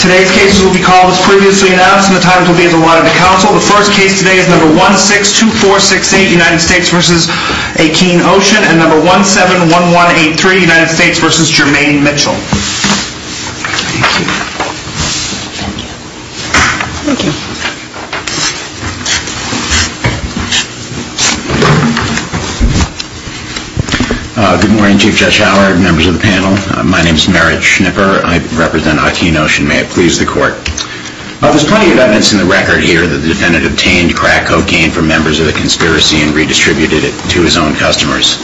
Today's cases will be called as previously announced and the times will be as allotted to counsel. The first case today is number 162468 United States v. Akeen Ocean and number 171183 United States v. Jermaine Mitchell. Thank you. Thank you. Thank you. My name is Merritt Schnipper. I represent Akeen Ocean. May it please the court. There's plenty of evidence in the record here that the defendant obtained crack cocaine from members of the conspiracy and redistributed it to his own customers.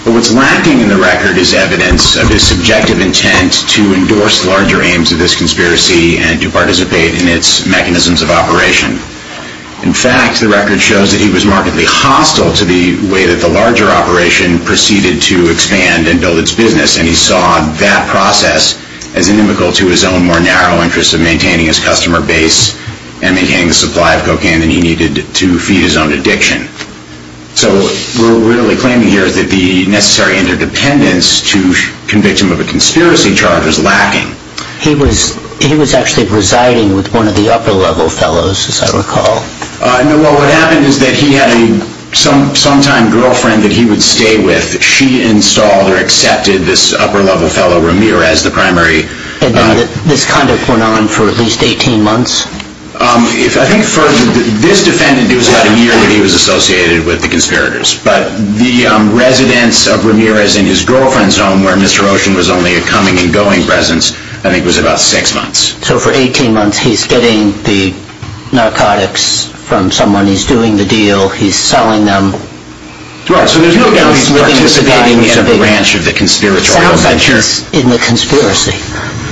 But what's lacking in the record is evidence of his subjective intent to endorse larger aims of this conspiracy and to participate in its mechanisms of operation. In fact, the record shows that he was markedly hostile to the way that the larger operation proceeded to expand and build its business. And he saw that process as inimical to his own more narrow interests of maintaining his customer base and maintaining the supply of cocaine that he needed to feed his own addiction. So what we're really claiming here is that the necessary interdependence to convict him of a conspiracy charge was lacking. He was actually residing with one of the upper-level fellows, as I recall. What happened is that he had a sometime girlfriend that he would stay with. She installed or accepted this upper-level fellow, Ramirez, the primary. And this conduct went on for at least 18 months? I think for this defendant, it was about a year that he was associated with the conspirators. But the residence of Ramirez in his girlfriend's home, where Mr. Ocean was only a coming and going presence, I think was about six months. So for 18 months, he's getting the narcotics from someone. He's doing the deal. He's selling them. Right. So there's no doubt he's participating in a branch of the conspiratorial venture. Sounds like he's in the conspiracy.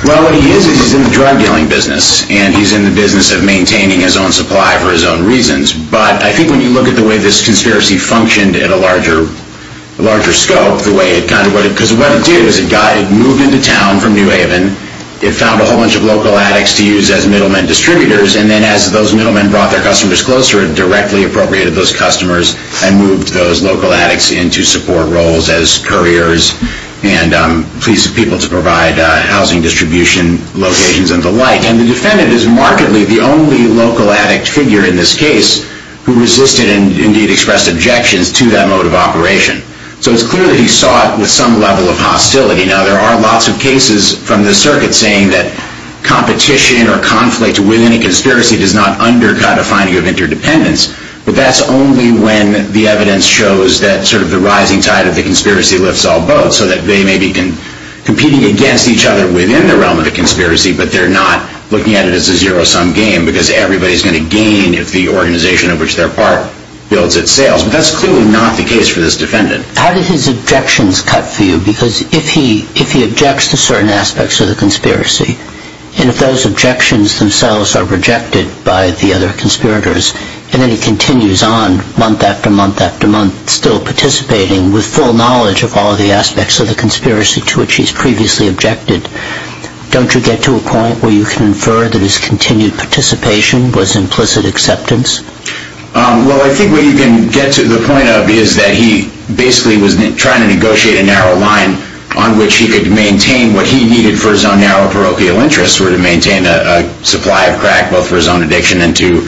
Well, what he is is he's in the drug dealing business. And he's in the business of maintaining his own supply for his own reasons. But I think when you look at the way this conspiracy functioned at a larger scope, because what it did was it moved into town from New Haven. It found a whole bunch of local addicts to use as middlemen distributors. And then as those middlemen brought their customers closer, it directly appropriated those customers and moved those local addicts into support roles as couriers and people to provide housing distribution locations and the like. And the defendant is markedly the only local addict figure in this case who resisted and indeed expressed objections to that mode of operation. So it's clear that he saw it with some level of hostility. Now, there are lots of cases from the circuit saying that competition or conflict within a conspiracy does not undercut a finding of interdependence. But that's only when the evidence shows that sort of the rising tide of the conspiracy lifts all boats. So that they may be competing against each other within the realm of the conspiracy, but they're not looking at it as a zero-sum game because everybody's going to gain if the organization of which they're part builds its sails. But that's clearly not the case for this defendant. How did his objections cut for you? Because if he objects to certain aspects of the conspiracy, and if those objections themselves are rejected by the other conspirators, and then he continues on month after month after month still participating with full knowledge of all the aspects of the conspiracy to which he's previously objected, don't you get to a point where you can infer that his continued participation was implicit acceptance? Well, I think what you can get to the point of is that he basically was trying to negotiate a narrow line on which he could maintain what he needed for his own narrow parochial interests, or to maintain a supply of crack, both for his own addiction and to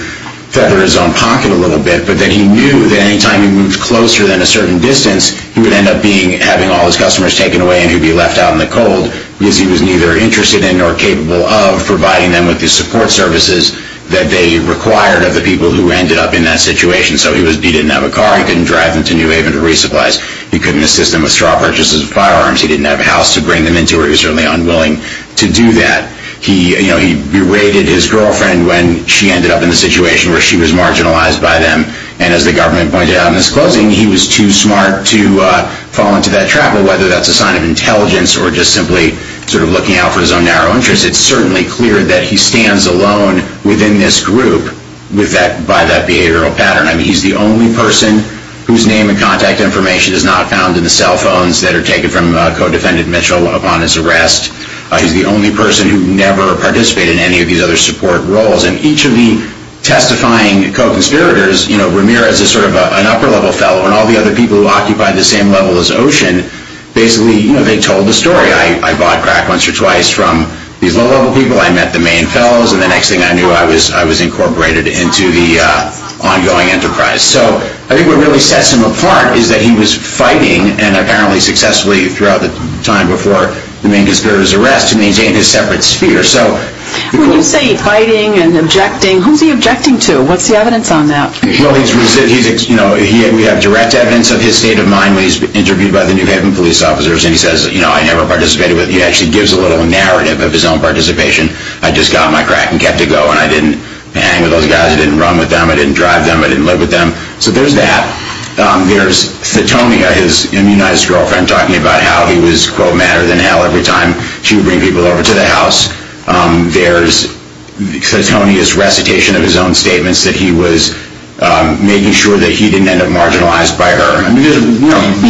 feather his own pocket a little bit. But then he knew that any time he moved closer than a certain distance, he would end up having all his customers taken away and he'd be left out in the cold because he was neither interested in nor capable of providing them with the support services that they required of the people who ended up in that situation. So he didn't have a car. He couldn't drive them to New Haven to resupply. He couldn't assist them with straw purchases of firearms. He didn't have a house to bring them into, or he was certainly unwilling to do that. He berated his girlfriend when she ended up in the situation where she was marginalized by them. And as the government pointed out in his closing, he was too smart to fall into that trap. Whether that's a sign of intelligence or just simply sort of looking out for his own narrow interests, it's certainly clear that he stands alone within this group by that behavioral pattern. I mean, he's the only person whose name and contact information is not found in the cell phones that are taken from co-defendant Mitchell upon his arrest. He's the only person who never participated in any of these other support roles. And each of the testifying co-conspirators, you know, Ramirez is sort of an upper-level fellow, and all the other people who occupy the same level as Ocean, basically, you know, they told the story. I bought crack once or twice from these low-level people. I met the main fellows, and the next thing I knew, I was incorporated into the ongoing enterprise. So I think what really sets him apart is that he was fighting, and apparently successfully throughout the time before the main conspirators' arrest, to maintain his separate sphere. When you say fighting and objecting, who's he objecting to? What's the evidence on that? Well, we have direct evidence of his state of mind when he's interviewed by the New Haven police officers, and he says, you know, I never participated. He actually gives a little narrative of his own participation. I just got my crack and kept it going. I didn't hang with those guys. I didn't run with them. I didn't drive them. I didn't live with them. So there's that. There's Thetonia, his immunized girlfriend, talking about how he was, quote, madder than hell every time she would bring people over to the house. There's Thetonia's recitation of his own statements that he was making sure that he didn't end up marginalized by her. You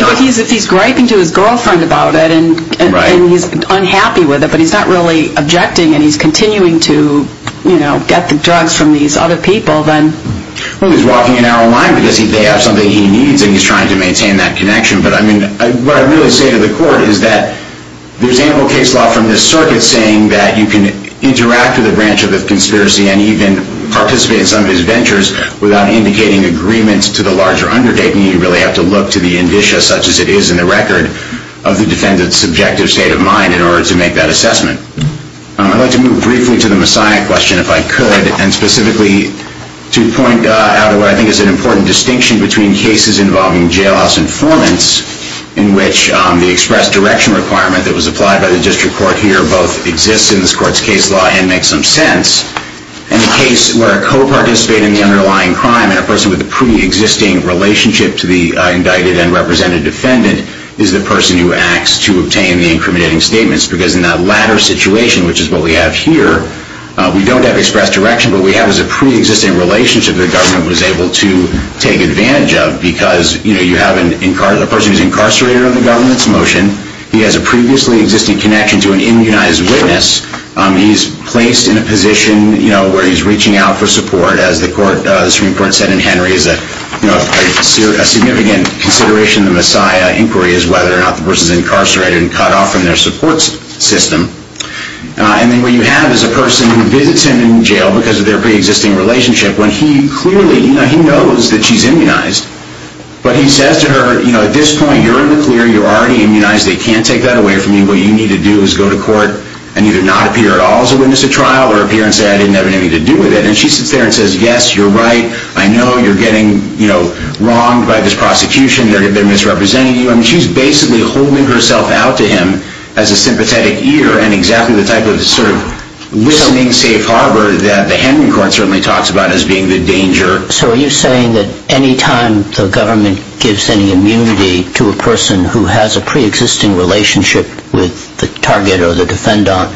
know, he's griping to his girlfriend about it, and he's unhappy with it, but he's not really objecting, and he's continuing to, you know, get the drugs from these other people. Well, he's walking an arrow line because they have something he needs, and he's trying to maintain that connection. But, I mean, what I really say to the court is that there's ample case law from this circuit saying that you can interact with a branch of the conspiracy and even participate in some of his ventures without indicating agreements to the larger undertaking. You really have to look to the indicia, such as it is in the record, of the defendant's subjective state of mind in order to make that assessment. I'd like to move briefly to the Messiah question, if I could, and specifically to point out what I think is an important distinction between cases involving jailhouse informants, in which the express direction requirement that was applied by the district court here both exists in this court's case law and makes some sense, and a case where a coparticipant in the underlying crime and a person with a pre-existing relationship to the indicted and represented defendant is the person who acts to obtain the incriminating statements, because in that latter situation, which is what we have here, we don't have express direction. What we have is a pre-existing relationship the government was able to take advantage of, because you have a person who's incarcerated under the government's motion. He has a previously existing connection to an immunized witness. He's placed in a position where he's reaching out for support, as the Supreme Court said in Henry, a significant consideration in the Messiah inquiry is whether or not the person's incarcerated and cut off from their support system. And then what you have is a person who visits him in jail because of their pre-existing relationship, when he clearly knows that she's immunized, but he says to her, you know, at this point you're in the clear, you're already immunized, they can't take that away from you, what you need to do is go to court and either not appear at all as a witness at trial or appear and say I didn't have anything to do with it. And she sits there and says, yes, you're right, I know you're getting, you know, wronged by this prosecution, they're misrepresenting you. I mean, she's basically holding herself out to him as a sympathetic ear and exactly the type of sort of listening safe harbor that the Henry court certainly talks about as being the danger. So are you saying that any time the government gives any immunity to a person who has a pre-existing relationship with the target or the defendant,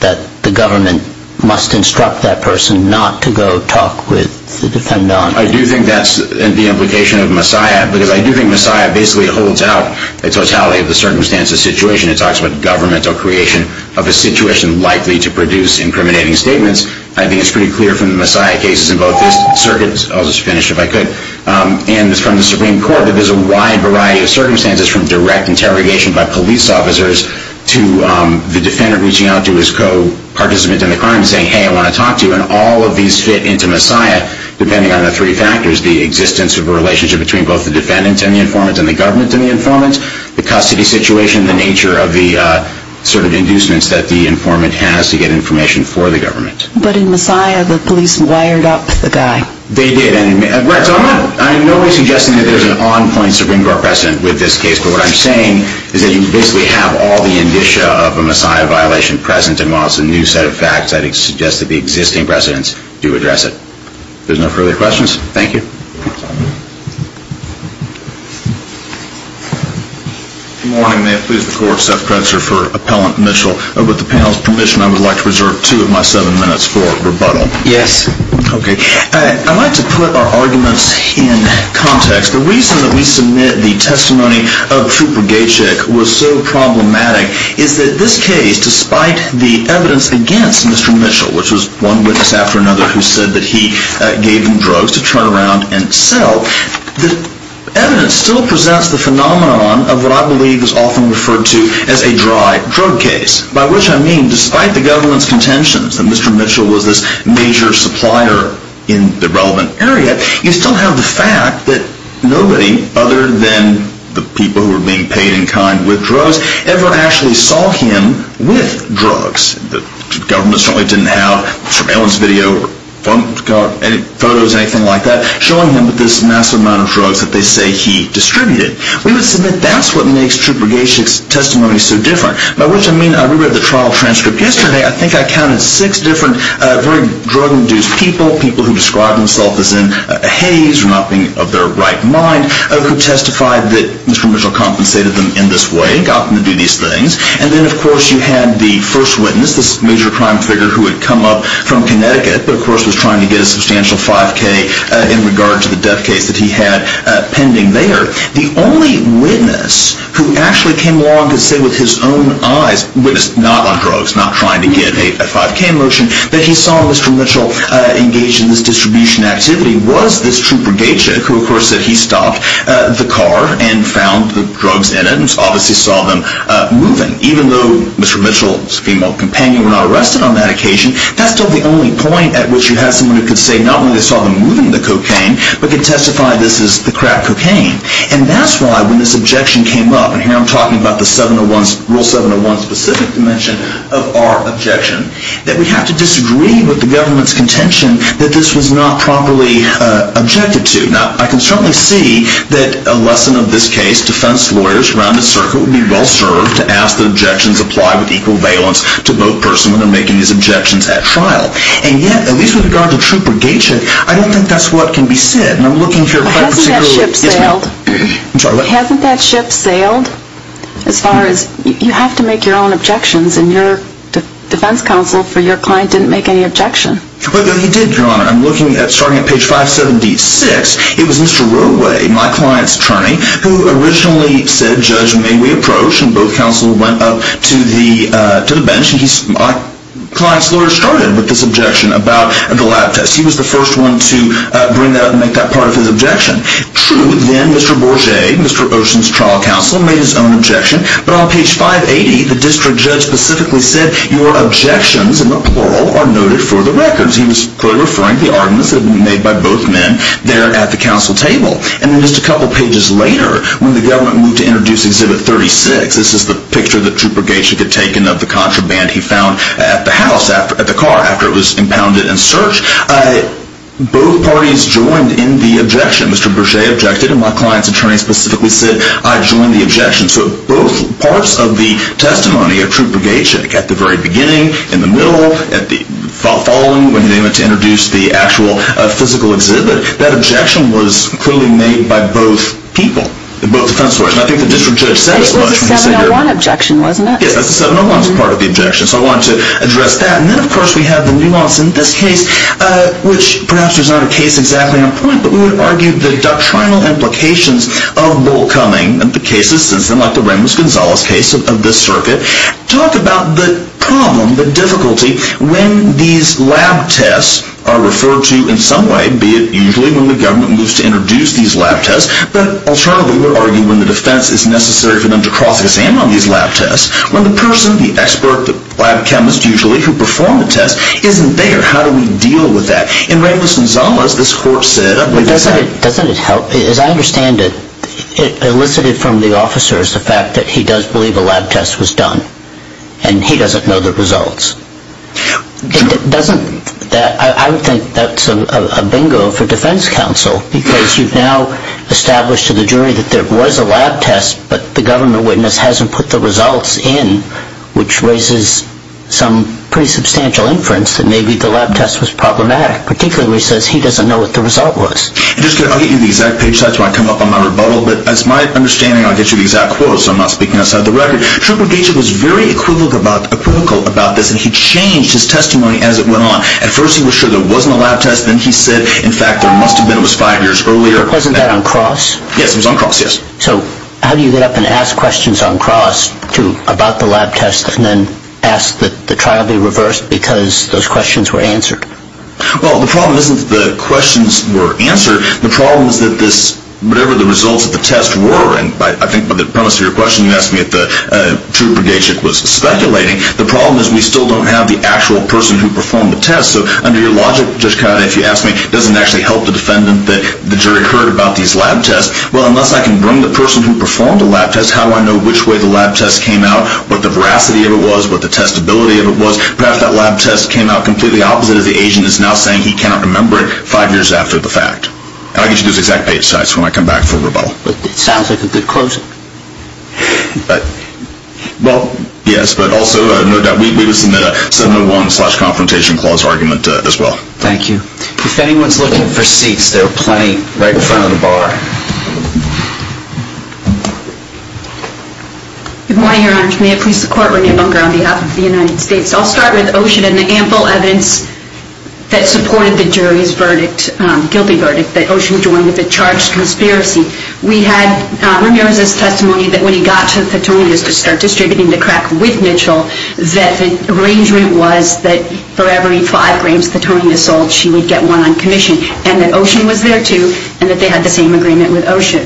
that the government must instruct that person not to go talk with the defendant? I do think that's the implication of Messiah, because I do think Messiah basically holds out the totality of the circumstances, situation. It talks about governmental creation of a situation likely to produce incriminating statements. I think it's pretty clear from the Messiah cases in both these circuits, I'll just finish if I could, and from the Supreme Court that there's a wide variety of circumstances from direct interrogation by police officers to the defendant reaching out to his co-participant in the crime and saying, hey, I want to talk to you. And all of these fit into Messiah, depending on the three factors, the existence of a relationship between both the defendant and the informant and the government and the informant, the custody situation, the nature of the sort of inducements that the informant has to get information for the government. But in Messiah, the police wired up the guy. They did. Right, so I'm not, I'm not suggesting that there's an on-point Supreme Court precedent with this case, but what I'm saying is that you basically have all the indicia of a Messiah violation present and while it's a new set of facts, I'd suggest that the existing precedents do address it. If there's no further questions, thank you. Good morning, may it please the Court. Seth Kretzer for Appellant Initial. With the panel's permission, I would like to reserve two of my seven minutes for rebuttal. Yes. Okay. I'd like to put our arguments in context. The reason that we submit the testimony of Trooper Gajcik was so problematic is that this case, despite the evidence against Mr. Mitchell, which was one witness after another who said that he gave him drugs to turn around and sell, the evidence still presents the phenomenon of what I believe is often referred to as a dry drug case. By which I mean, despite the government's contentions that Mr. Mitchell was this major supplier in the relevant area, you still have the fact that nobody other than the people who were being paid in kind with drugs ever actually saw him with drugs. The government certainly didn't have surveillance video or photos or anything like that showing him with this massive amount of drugs that they say he distributed. We would submit that's what makes Trooper Gajcik's testimony so different. By which I mean, I reread the trial transcript yesterday. I think I counted six different drug-induced people, people who described themselves as in a haze or not being of their right mind, who testified that Mr. Mitchell compensated them in this way and got them to do these things. And then, of course, you had the first witness, this major crime figure who had come up from Connecticut but, of course, was trying to get a substantial 5K in regard to the death case that he had pending there. The only witness who actually came along to say with his own eyes, not on drugs, not trying to get a 5K motion, that he saw Mr. Mitchell engaged in this distribution activity was this Trooper Gajcik, who, of course, said he stopped the car and found the drugs in it and obviously saw them moving. Even though Mr. Mitchell's female companion were not arrested on that occasion, that's still the only point at which you have someone who could say not only they saw them moving the cocaine but could testify this is the crap cocaine. And that's why when this objection came up, and here I'm talking about the Rule 701 specific dimension of our objection, that we have to disagree with the government's contention that this was not properly objected to. Now, I can certainly see that a lesson of this case, defense lawyers around the circle would be well served to ask that objections apply with equal valence to both person when they're making these objections at trial. And yet, at least with regard to Trooper Gajcik, I don't think that's what can be said. Hasn't that ship sailed? You have to make your own objections, and your defense counsel for your client didn't make any objection. He did, Your Honor. I'm looking at starting at page 576. It was Mr. Roadway, my client's attorney, who originally said, Judge, may we approach, and both counsel went up to the bench, and my client's lawyer started with this objection about the lab test. He was the first one to bring that up and make that part of his objection. True, then Mr. Bourget, Mr. Ocean's trial counsel, made his own objection, but on page 580, the district judge specifically said, Your objections, in the plural, are noted for the records. He was clearly referring to the arguments that had been made by both men there at the counsel table. And then just a couple pages later, when the government moved to introduce Exhibit 36, this is the picture that Trooper Gajcik had taken of the contraband he found at the house, at the car, after it was impounded and searched. Both parties joined in the objection. Mr. Bourget objected, and my client's attorney specifically said, I join the objection. So both parts of the testimony of Trooper Gajcik, at the very beginning, in the middle, at the following, when they went to introduce the actual physical exhibit, that objection was clearly made by both people, both defense lawyers. And I think the district judge said as much. It was a 701 objection, wasn't it? Yes, that's a 701 part of the objection, so I wanted to address that. And then, of course, we have the nuance in this case, which perhaps there's not a case exactly on point, but we would argue the doctrinal implications of Bull Cumming, the cases, like the Ramos-Gonzalez case of this circuit, talk about the problem, the difficulty, when these lab tests are referred to in some way, be it usually when the government moves to introduce these lab tests, but alternatively we would argue when the defense is necessary for them to cross-exam on these lab tests, when the person, the expert, the lab chemist, usually, who performed the test, isn't there. How do we deal with that? In Ramos-Gonzalez, this court said... Doesn't it help? As I understand it, elicited from the officer is the fact that he does believe a lab test was done, and he doesn't know the results. I would think that's a bingo for defense counsel, because you've now established to the jury that there was a lab test, but the government witness hasn't put the results in, which raises some pretty substantial inference that maybe the lab test was problematic, particularly since he doesn't know what the result was. I'll get you the exact page size when I come up on my rebuttal, but as my understanding, I'll get you the exact quote, so I'm not speaking outside the record. Schubert Gates was very equivocal about this, and he changed his testimony as it went on. At first he was sure there wasn't a lab test, then he said, in fact, there must have been, it was five years earlier. Wasn't that on cross? Yes, it was on cross, yes. So how do you get up and ask questions on cross about the lab test, and then ask that the trial be reversed because those questions were answered? Well, the problem isn't that the questions were answered. The problem is that whatever the results of the test were, and I think by the premise of your question, you asked me if the true Brigadeship was speculating. The problem is we still don't have the actual person who performed the test, so under your logic, Judge Cauda, if you ask me, it doesn't actually help the defendant that the jury heard about these lab tests. Well, unless I can bring the person who performed the lab test, how do I know which way the lab test came out, what the veracity of it was, what the testability of it was? Perhaps that lab test came out completely opposite of the agent that's now saying he cannot remember it five years after the fact. I'll get you those exact page sites when I come back for rebuttal. It sounds like a good closing. But, well, yes, but also, no doubt, we would submit a 701 slash confrontation clause argument as well. Thank you. If anyone's looking for seats, there are plenty right in front of the bar. Good morning, Your Honor. May I please support Rainer Bunker on behalf of the United States? I'll start with Ocean and the ample evidence that supported the jury's verdict, guilty verdict, that Ocean joined with a charged conspiracy. We had Rainer's testimony that when he got to the Petronius to start distributing the crack with Mitchell, that the arrangement was that for every five grams Petronius sold, that she would get one on commission, and that Ocean was there, too, and that they had the same agreement with Ocean.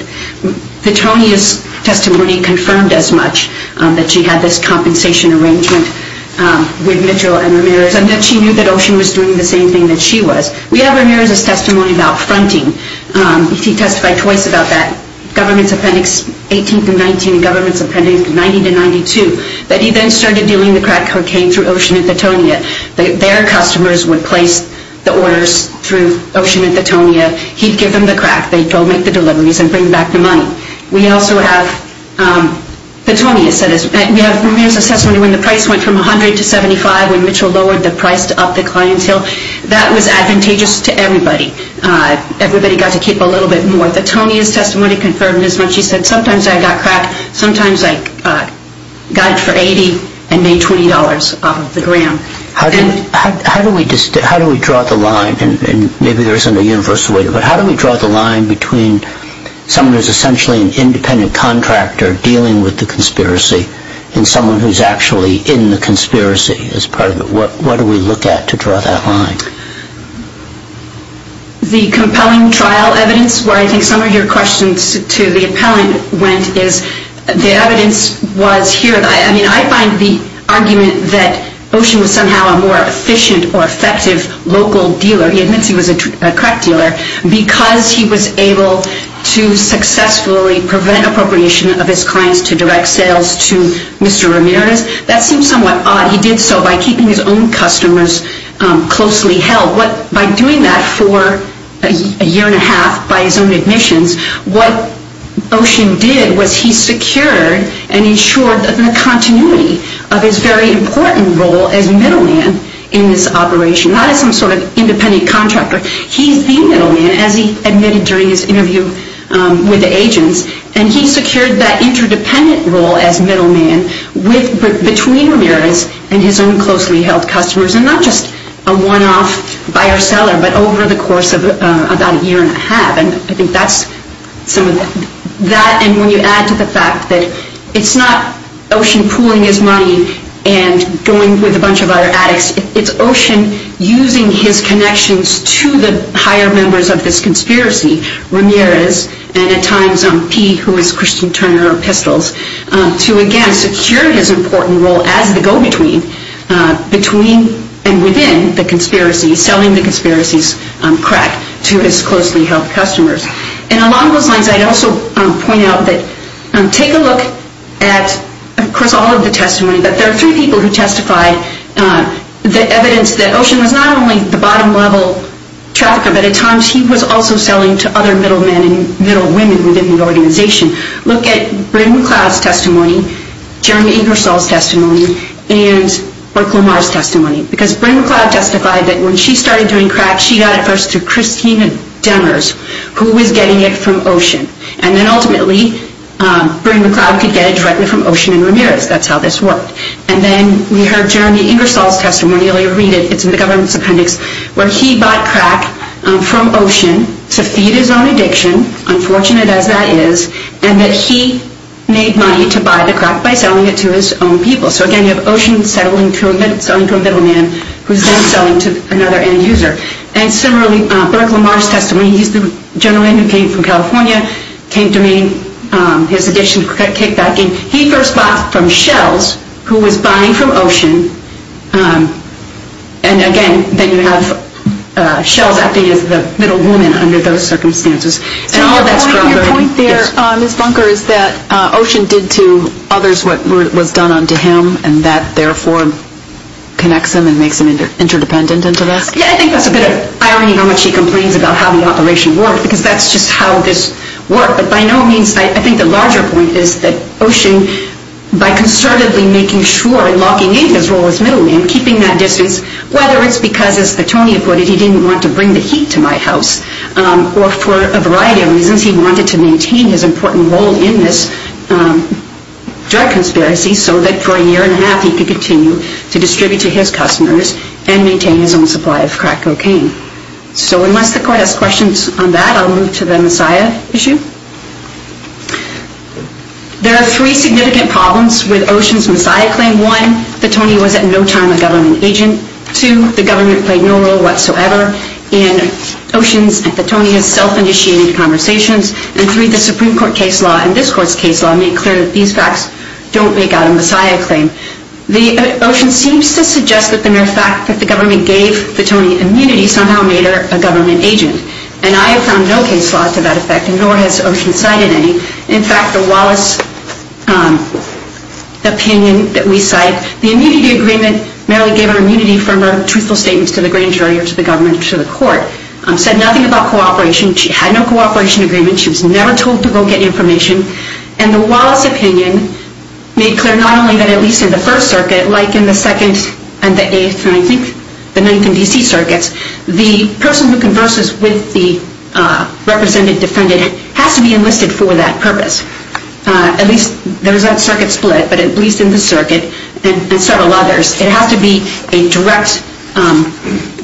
Petronius' testimony confirmed as much, that she had this compensation arrangement with Mitchell and Ramirez, and that she knew that Ocean was doing the same thing that she was. We have Ramirez's testimony about fronting. He testified twice about that, Government's Appendix 18-19 and Government's Appendix 90-92, that he then started dealing the crack cocaine through Ocean and Petronius. That their customers would place the orders through Ocean and Petronius. He'd give them the crack. They'd go make the deliveries and bring back the money. We also have Petronius' testimony when the price went from $100 to $75 when Mitchell lowered the price to up the clientele. That was advantageous to everybody. Everybody got to keep a little bit more. Petronius' testimony confirmed as much. She said, sometimes I got crack, sometimes I got it for $80 and made $20 off of the gram. How do we draw the line, and maybe there isn't a universal way to do it, but how do we draw the line between someone who's essentially an independent contractor dealing with the conspiracy and someone who's actually in the conspiracy as part of it? What do we look at to draw that line? The compelling trial evidence, where I think some of your questions to the appellant went, is the evidence was here. I find the argument that Ocean was somehow a more efficient or effective local dealer, he admits he was a crack dealer, because he was able to successfully prevent appropriation of his clients to direct sales to Mr. Ramirez. That seems somewhat odd. He did so by keeping his own customers closely held. By doing that for a year and a half by his own admissions, what Ocean did was he secured and ensured the continuity of his very important role as middleman in this operation, not as some sort of independent contractor. He's the middleman, as he admitted during his interview with the agents, and he secured that interdependent role as middleman between Ramirez and his own closely held customers, and not just a one-off buyer-seller, but over the course of about a year and a half. I think that's some of that, and when you add to the fact that it's not Ocean pooling his money and going with a bunch of other addicts, it's Ocean using his connections to the higher members of this conspiracy, Ramirez and at times P, who is Christian Turner of Pistols, to again secure his important role as the go-between between and within the conspiracy, selling the conspiracy's crack to his closely held customers. And along those lines, I'd also point out that take a look at, of course, all of the testimony, but there are three people who testified the evidence that Ocean was not only the bottom-level trafficker, but at times he was also selling to other middlemen and middlewomen within the organization. Look at Bryn McLeod's testimony, Jeremy Ingersoll's testimony, and Burt Lamar's testimony, because Bryn McLeod justified that when she started doing crack, she got it first to Christina Demers, who was getting it from Ocean, and then ultimately Bryn McLeod could get it directly from Ocean and Ramirez. That's how this worked. And then we heard Jeremy Ingersoll's testimony, you'll read it, it's in the government's appendix, where he bought crack from Ocean to feed his own addiction, unfortunate as that is, and that he made money to buy the crack by selling it to his own people. So again, you have Ocean selling to a middleman, who's then selling to another end-user. And similarly, Burt Lamar's testimony, he's the gentleman who came from California, came to me, his addiction to crack came back in. He first bought from Shells, who was buying from Ocean, and again, then you have Shells acting as the middlewoman under those circumstances. So your point there, Ms. Bunker, is that Ocean did to others what was done unto him, and that therefore connects him and makes him interdependent into this? Yeah, I think that's a bit of irony, how much he complains about how the operation worked, because that's just how this worked. But by no means, I think the larger point is that Ocean, by concertedly making sure and locking in his role as middleman, keeping that distance, whether it's because, as Tony put it, he didn't want to bring the heat to my house, or for a variety of reasons, he wanted to maintain his important role in this drug conspiracy, so that for a year and a half, he could continue to distribute to his customers and maintain his own supply of crack cocaine. So unless the court has questions on that, I'll move to the Messiah issue. There are three significant problems with Ocean's Messiah claim. One, that Tony was at no time a government agent. Two, the government played no role whatsoever in Ocean's and Tony's self-initiated conversations. And three, the Supreme Court case law and this court's case law make clear that these facts don't make out a Messiah claim. Ocean seems to suggest that the mere fact that the government gave Tony immunity somehow made her a government agent. And I have found no case law to that effect, and nor has Ocean cited any. In fact, the Wallace opinion that we cite, that the immunity agreement merely gave her immunity from her truthful statements to the grand jury or to the government or to the court, said nothing about cooperation. She had no cooperation agreement. She was never told to go get information. And the Wallace opinion made clear not only that at least in the First Circuit, like in the Second and the Eighth, and I think the Ninth and D.C. Circuits, the person who converses with the represented defendant has to be enlisted for that purpose. At least there's that circuit split, but at least in the circuit and several others, it has to be a direct,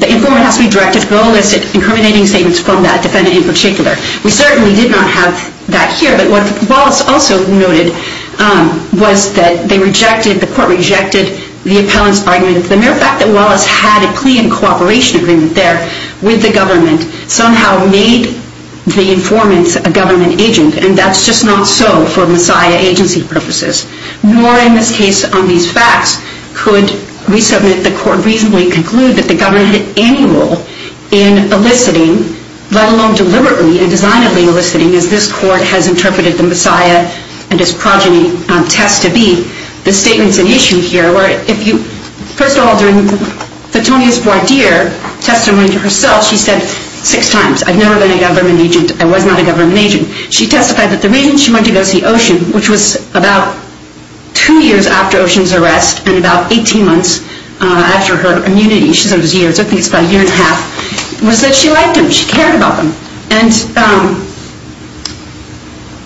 the informant has to be directed to enlist incriminating statements from that defendant in particular. We certainly did not have that here, but what Wallace also noted was that they rejected, the court rejected the appellant's argument. The mere fact that Wallace had a plea and cooperation agreement there with the government somehow made the informant a government agent, and that's just not so for Messiah agency purposes. Nor in this case on these facts could we submit the court reasonably conclude that the government had any role in eliciting, let alone deliberately and designably eliciting, as this court has interpreted the Messiah and his progeny test to be. This statement's an issue here, where if you, first of all, during the Tonya's voir dire testimony to herself, she said six times, I've never been a government agent, I was not a government agent. She testified that the reason she went to go see Ocean, which was about two years after Ocean's arrest and about 18 months after her immunity, she said it was years, I think it's about a year and a half, was that she liked him, she cared about him. And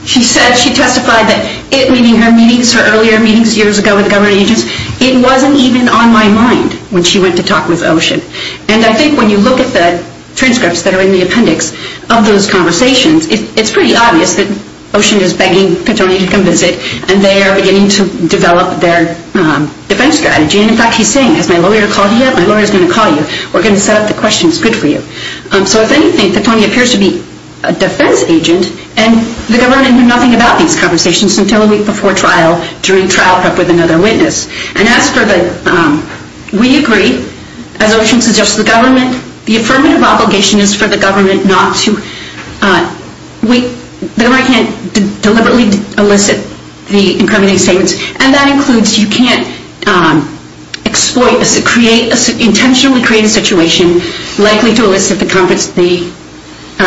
she said, she testified that it, meaning her meetings, her earlier meetings years ago with government agents, it wasn't even on my mind when she went to talk with Ocean. And I think when you look at the transcripts that are in the appendix of those conversations, it's pretty obvious that Ocean is begging for Tonya to come visit and they are beginning to develop their defense strategy. And in fact, he's saying, has my lawyer called you yet? My lawyer's going to call you. We're going to set up the questions, good for you. So if anything, Tonya appears to be a defense agent and the government knew nothing about these conversations until a week before trial, during trial prep with another witness. And as for the, we agree, as Ocean suggests to the government, the affirmative obligation is for the government not to, the government can't deliberately elicit the incriminating statements. And that includes, you can't exploit, intentionally create a situation likely to elicit the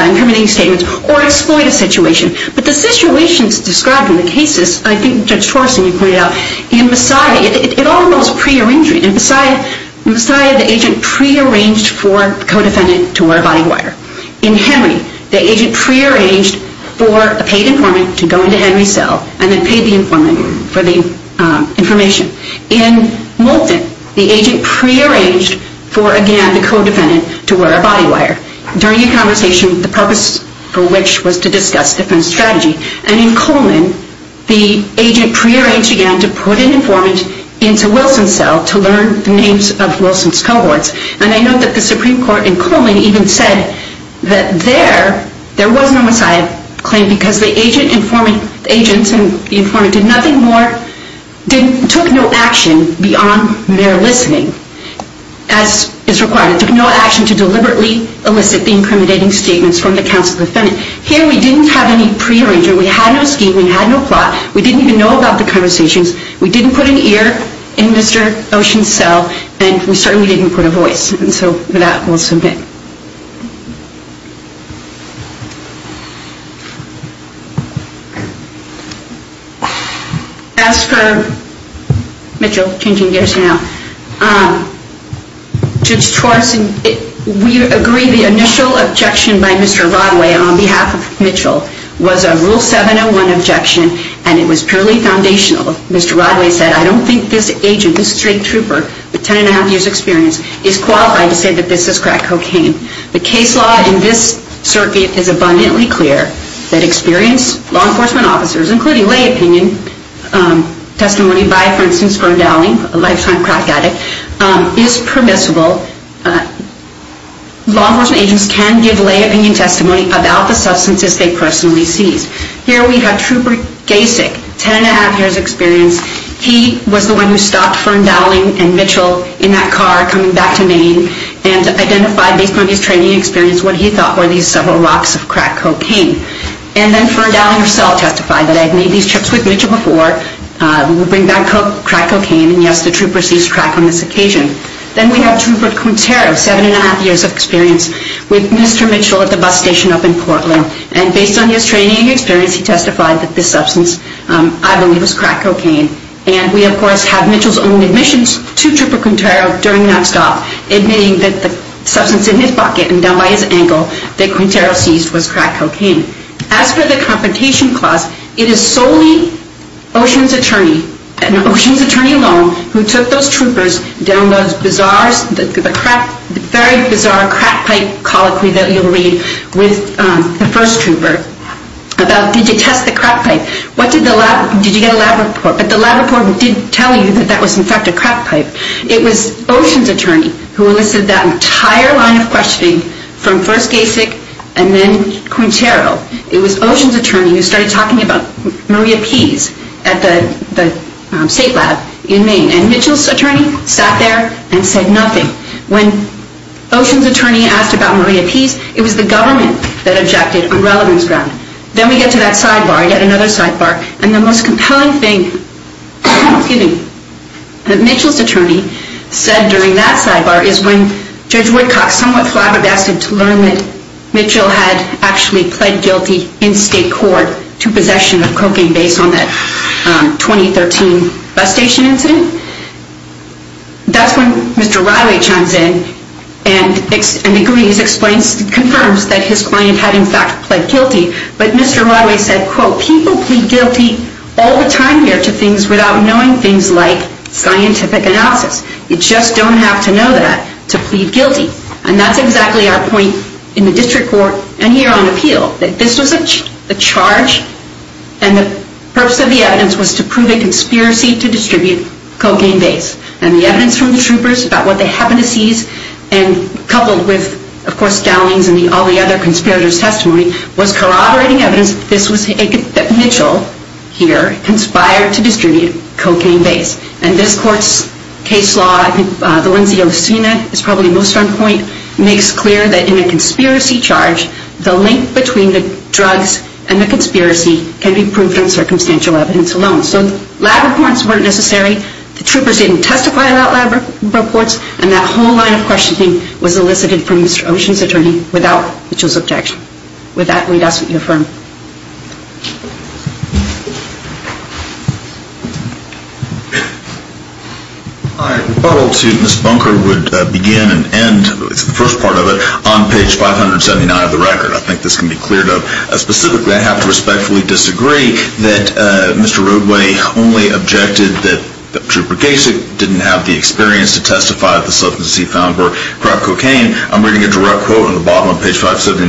incriminating statements or exploit a situation. But the situations described in the cases, I think Judge Torsten, you pointed out, in Messiah, it all involves prearrangement. In Messiah, the agent prearranged for the co-defendant to wear a body wire. In Henry, the agent prearranged for a paid informant to go into Henry's cell and then pay the informant for the information. In Moulton, the agent prearranged for again the co-defendant to wear a body wire. During a conversation, the purpose for which was to discuss different strategy. And in Coleman, the agent prearranged again to put an informant into Wilson's cell And I note that the Supreme Court in Coleman even said that there, there was no Messiah claim because the agents and the informant did nothing more, took no action beyond their listening as is required. It took no action to deliberately elicit the incriminating statements from the counsel defendant. Here we didn't have any prearrangement. We had no scheme. We had no plot. We didn't even know about the conversations. We didn't put an ear in Mr. Ocean's cell. And we certainly didn't put a voice. And so that will submit. As for Mitchell, changing gears now, Judge Torreson, we agree the initial objection by Mr. Rodway on behalf of Mitchell was a rule 701 objection and it was purely foundational. Mr. Rodway said, I don't think this agent, this street trooper, with 10 and a half years experience is qualified to say that this is crack cocaine. The case law in this circuit is abundantly clear that experienced law enforcement officers, including lay opinion testimony by, for instance, Fern Dowling, a lifetime crack addict, is permissible. Law enforcement agents can give lay opinion testimony about the substances they personally seized. Here we have Trooper Gasek, 10 and a half years experience. He was the one who stopped Fern Dowling and Mitchell in that car coming back to Maine and identified, based on his training experience, what he thought were these several rocks of crack cocaine. And then Fern Dowling herself testified that I had made these trips with Mitchell before. We would bring back crack cocaine and, yes, the trooper seized crack on this occasion. Then we have Trooper Quintero, 7 and a half years of experience with Mr. Mitchell at the bus station up in Portland. And based on his training experience, he testified that this substance, I believe, was crack cocaine. And we, of course, have Mitchell's own admissions to Trooper Quintero during that stop, admitting that the substance in his bucket and down by his ankle that Quintero seized was crack cocaine. As for the confrontation clause, it is solely Ocean's attorney, and Ocean's attorney alone, who took those troopers down those bizarre... the crack... the very bizarre crack pipe colloquy that you'll read with the first trooper about, did you test the crack pipe? What did the lab... did you get a lab report? But the lab report did tell you that that was, in fact, a crack pipe. It was Ocean's attorney who elicited that entire line of questioning from first Gasek and then Quintero. It was Ocean's attorney who started talking about Maria Pease at the state lab in Maine. And Mitchell's attorney sat there and said nothing. When Ocean's attorney asked about Maria Pease, it was the government that objected on relevance ground. Then we get to that sidebar, yet another sidebar, and the most compelling thing that Mitchell's attorney said during that sidebar is when Judge Woodcock somewhat flabbergasted to learn that Mitchell had actually pled guilty in state court to possession of cocaine based on that 2013 bus station incident. That's when Mr. Rodway chimes in and agrees, confirms that his client had, in fact, pled guilty. But Mr. Rodway said, quote, people plead guilty all the time here to things without knowing things like scientific analysis. You just don't have to know that to plead guilty. And that's exactly our point in the district court and here on appeal, that this was a charge and the purpose of the evidence was to prove a conspiracy to distribute cocaine based. And the evidence from the troopers about what they happened to seize and coupled with, of course, Dowling's and all the other conspirators' testimony was corroborating evidence that Mitchell here conspired to distribute cocaine based. And this court's case law, the ones you've seen it, is probably most on point, makes clear that in a conspiracy charge the link between the drugs and the conspiracy can be proved in circumstantial evidence alone. So lab reports weren't necessary. The troopers didn't testify about lab reports and that whole line of questioning was elicited from Mr. Oshin's attorney without Mitchell's objection. With that, we'd ask that you affirm. I rebuttal to Ms. Bunker would begin and end, the first part of it, on page 579 of the record. I think this can be cleared up. Specifically, I have to respectfully disagree that Mr. Roadway only objected that Trooper Gajcik didn't have the experience to testify of the substance he found for crack cocaine. I'm reading a direct quote on the bottom of page 579,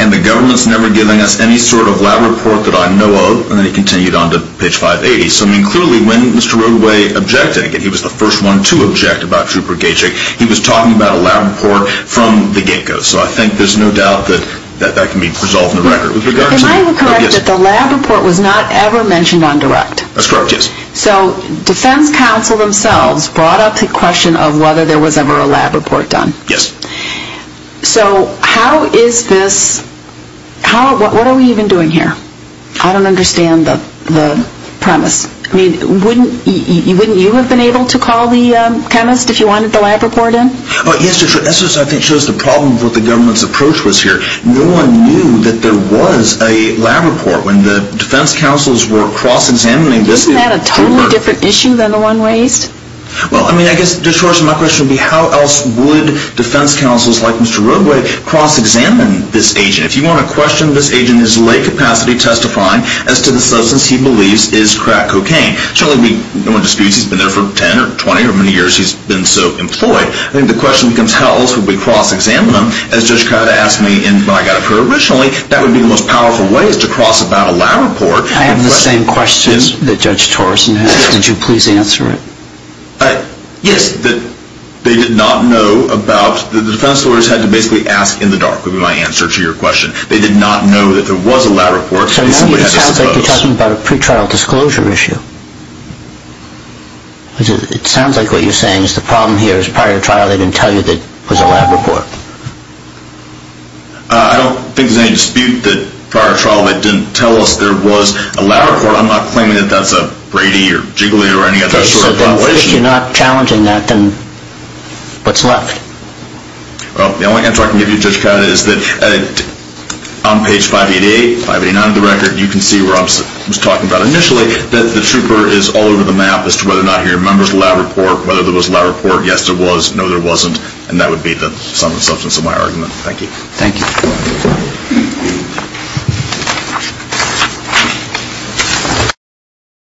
and the government's never given us any sort of lab report that I know of. And then he continued on to page 580. So, I mean, clearly, when Mr. Roadway objected, and he was the first one to object about Trooper Gajcik, he was talking about a lab report from the get-go. So I think there's no doubt that that can be resolved in the record. Can I correct that the lab report was not ever mentioned on direct? That's correct, yes. So, defense counsel themselves brought up the question of whether there was ever a lab report done. Yes. So, how is this, how, what are we even doing here? I don't understand the premise. I mean, wouldn't you have been able to call the chemist if you wanted the lab report in? Oh, yes, that's what I think shows the problem with what the government's approach was here. No one knew that there was a lab report. When the defense counsels were cross-examining this, Isn't that a totally different issue than the one raised? Well, I mean, I guess, Judge Horson, my question would be how else would defense counsels like Mr. Roadway cross-examine this agent? If you want to question this agent in his late capacity testifying as to the substance he believes is crack cocaine. Surely, no one disputes he's been there for 10 or 20 or many years he's been so employed. I think the question becomes how else would we cross-examine him? As Judge Kata asked me when I got it for originally, that would be the most powerful way is to cross-examine a lab report. I have the same question that Judge Torreson has. Did you please answer it? Yes, that they did not know about the defense lawyers had to basically ask in the dark would be my answer to your question. They did not know that there was a lab report. So you're talking about a pre-trial disclosure issue. It sounds like what you're saying is the problem here is prior to trial they didn't tell you there was a lab report. I don't think there's any dispute that prior to trial they didn't tell us there was a lab report. I'm not claiming that that's a Brady or Jiggly or any other sort of violation. If you're not challenging that, then what's left? Well, the only answer I can give you, Judge Kata, is that on page 588, 589 of the record, you can see where I was talking about initially that the trooper is all over the map as to whether or not he remembers the lab report, whether there was a lab report. Yes, there was. No, there wasn't. And that would be the sum and substance of my argument. Thank you.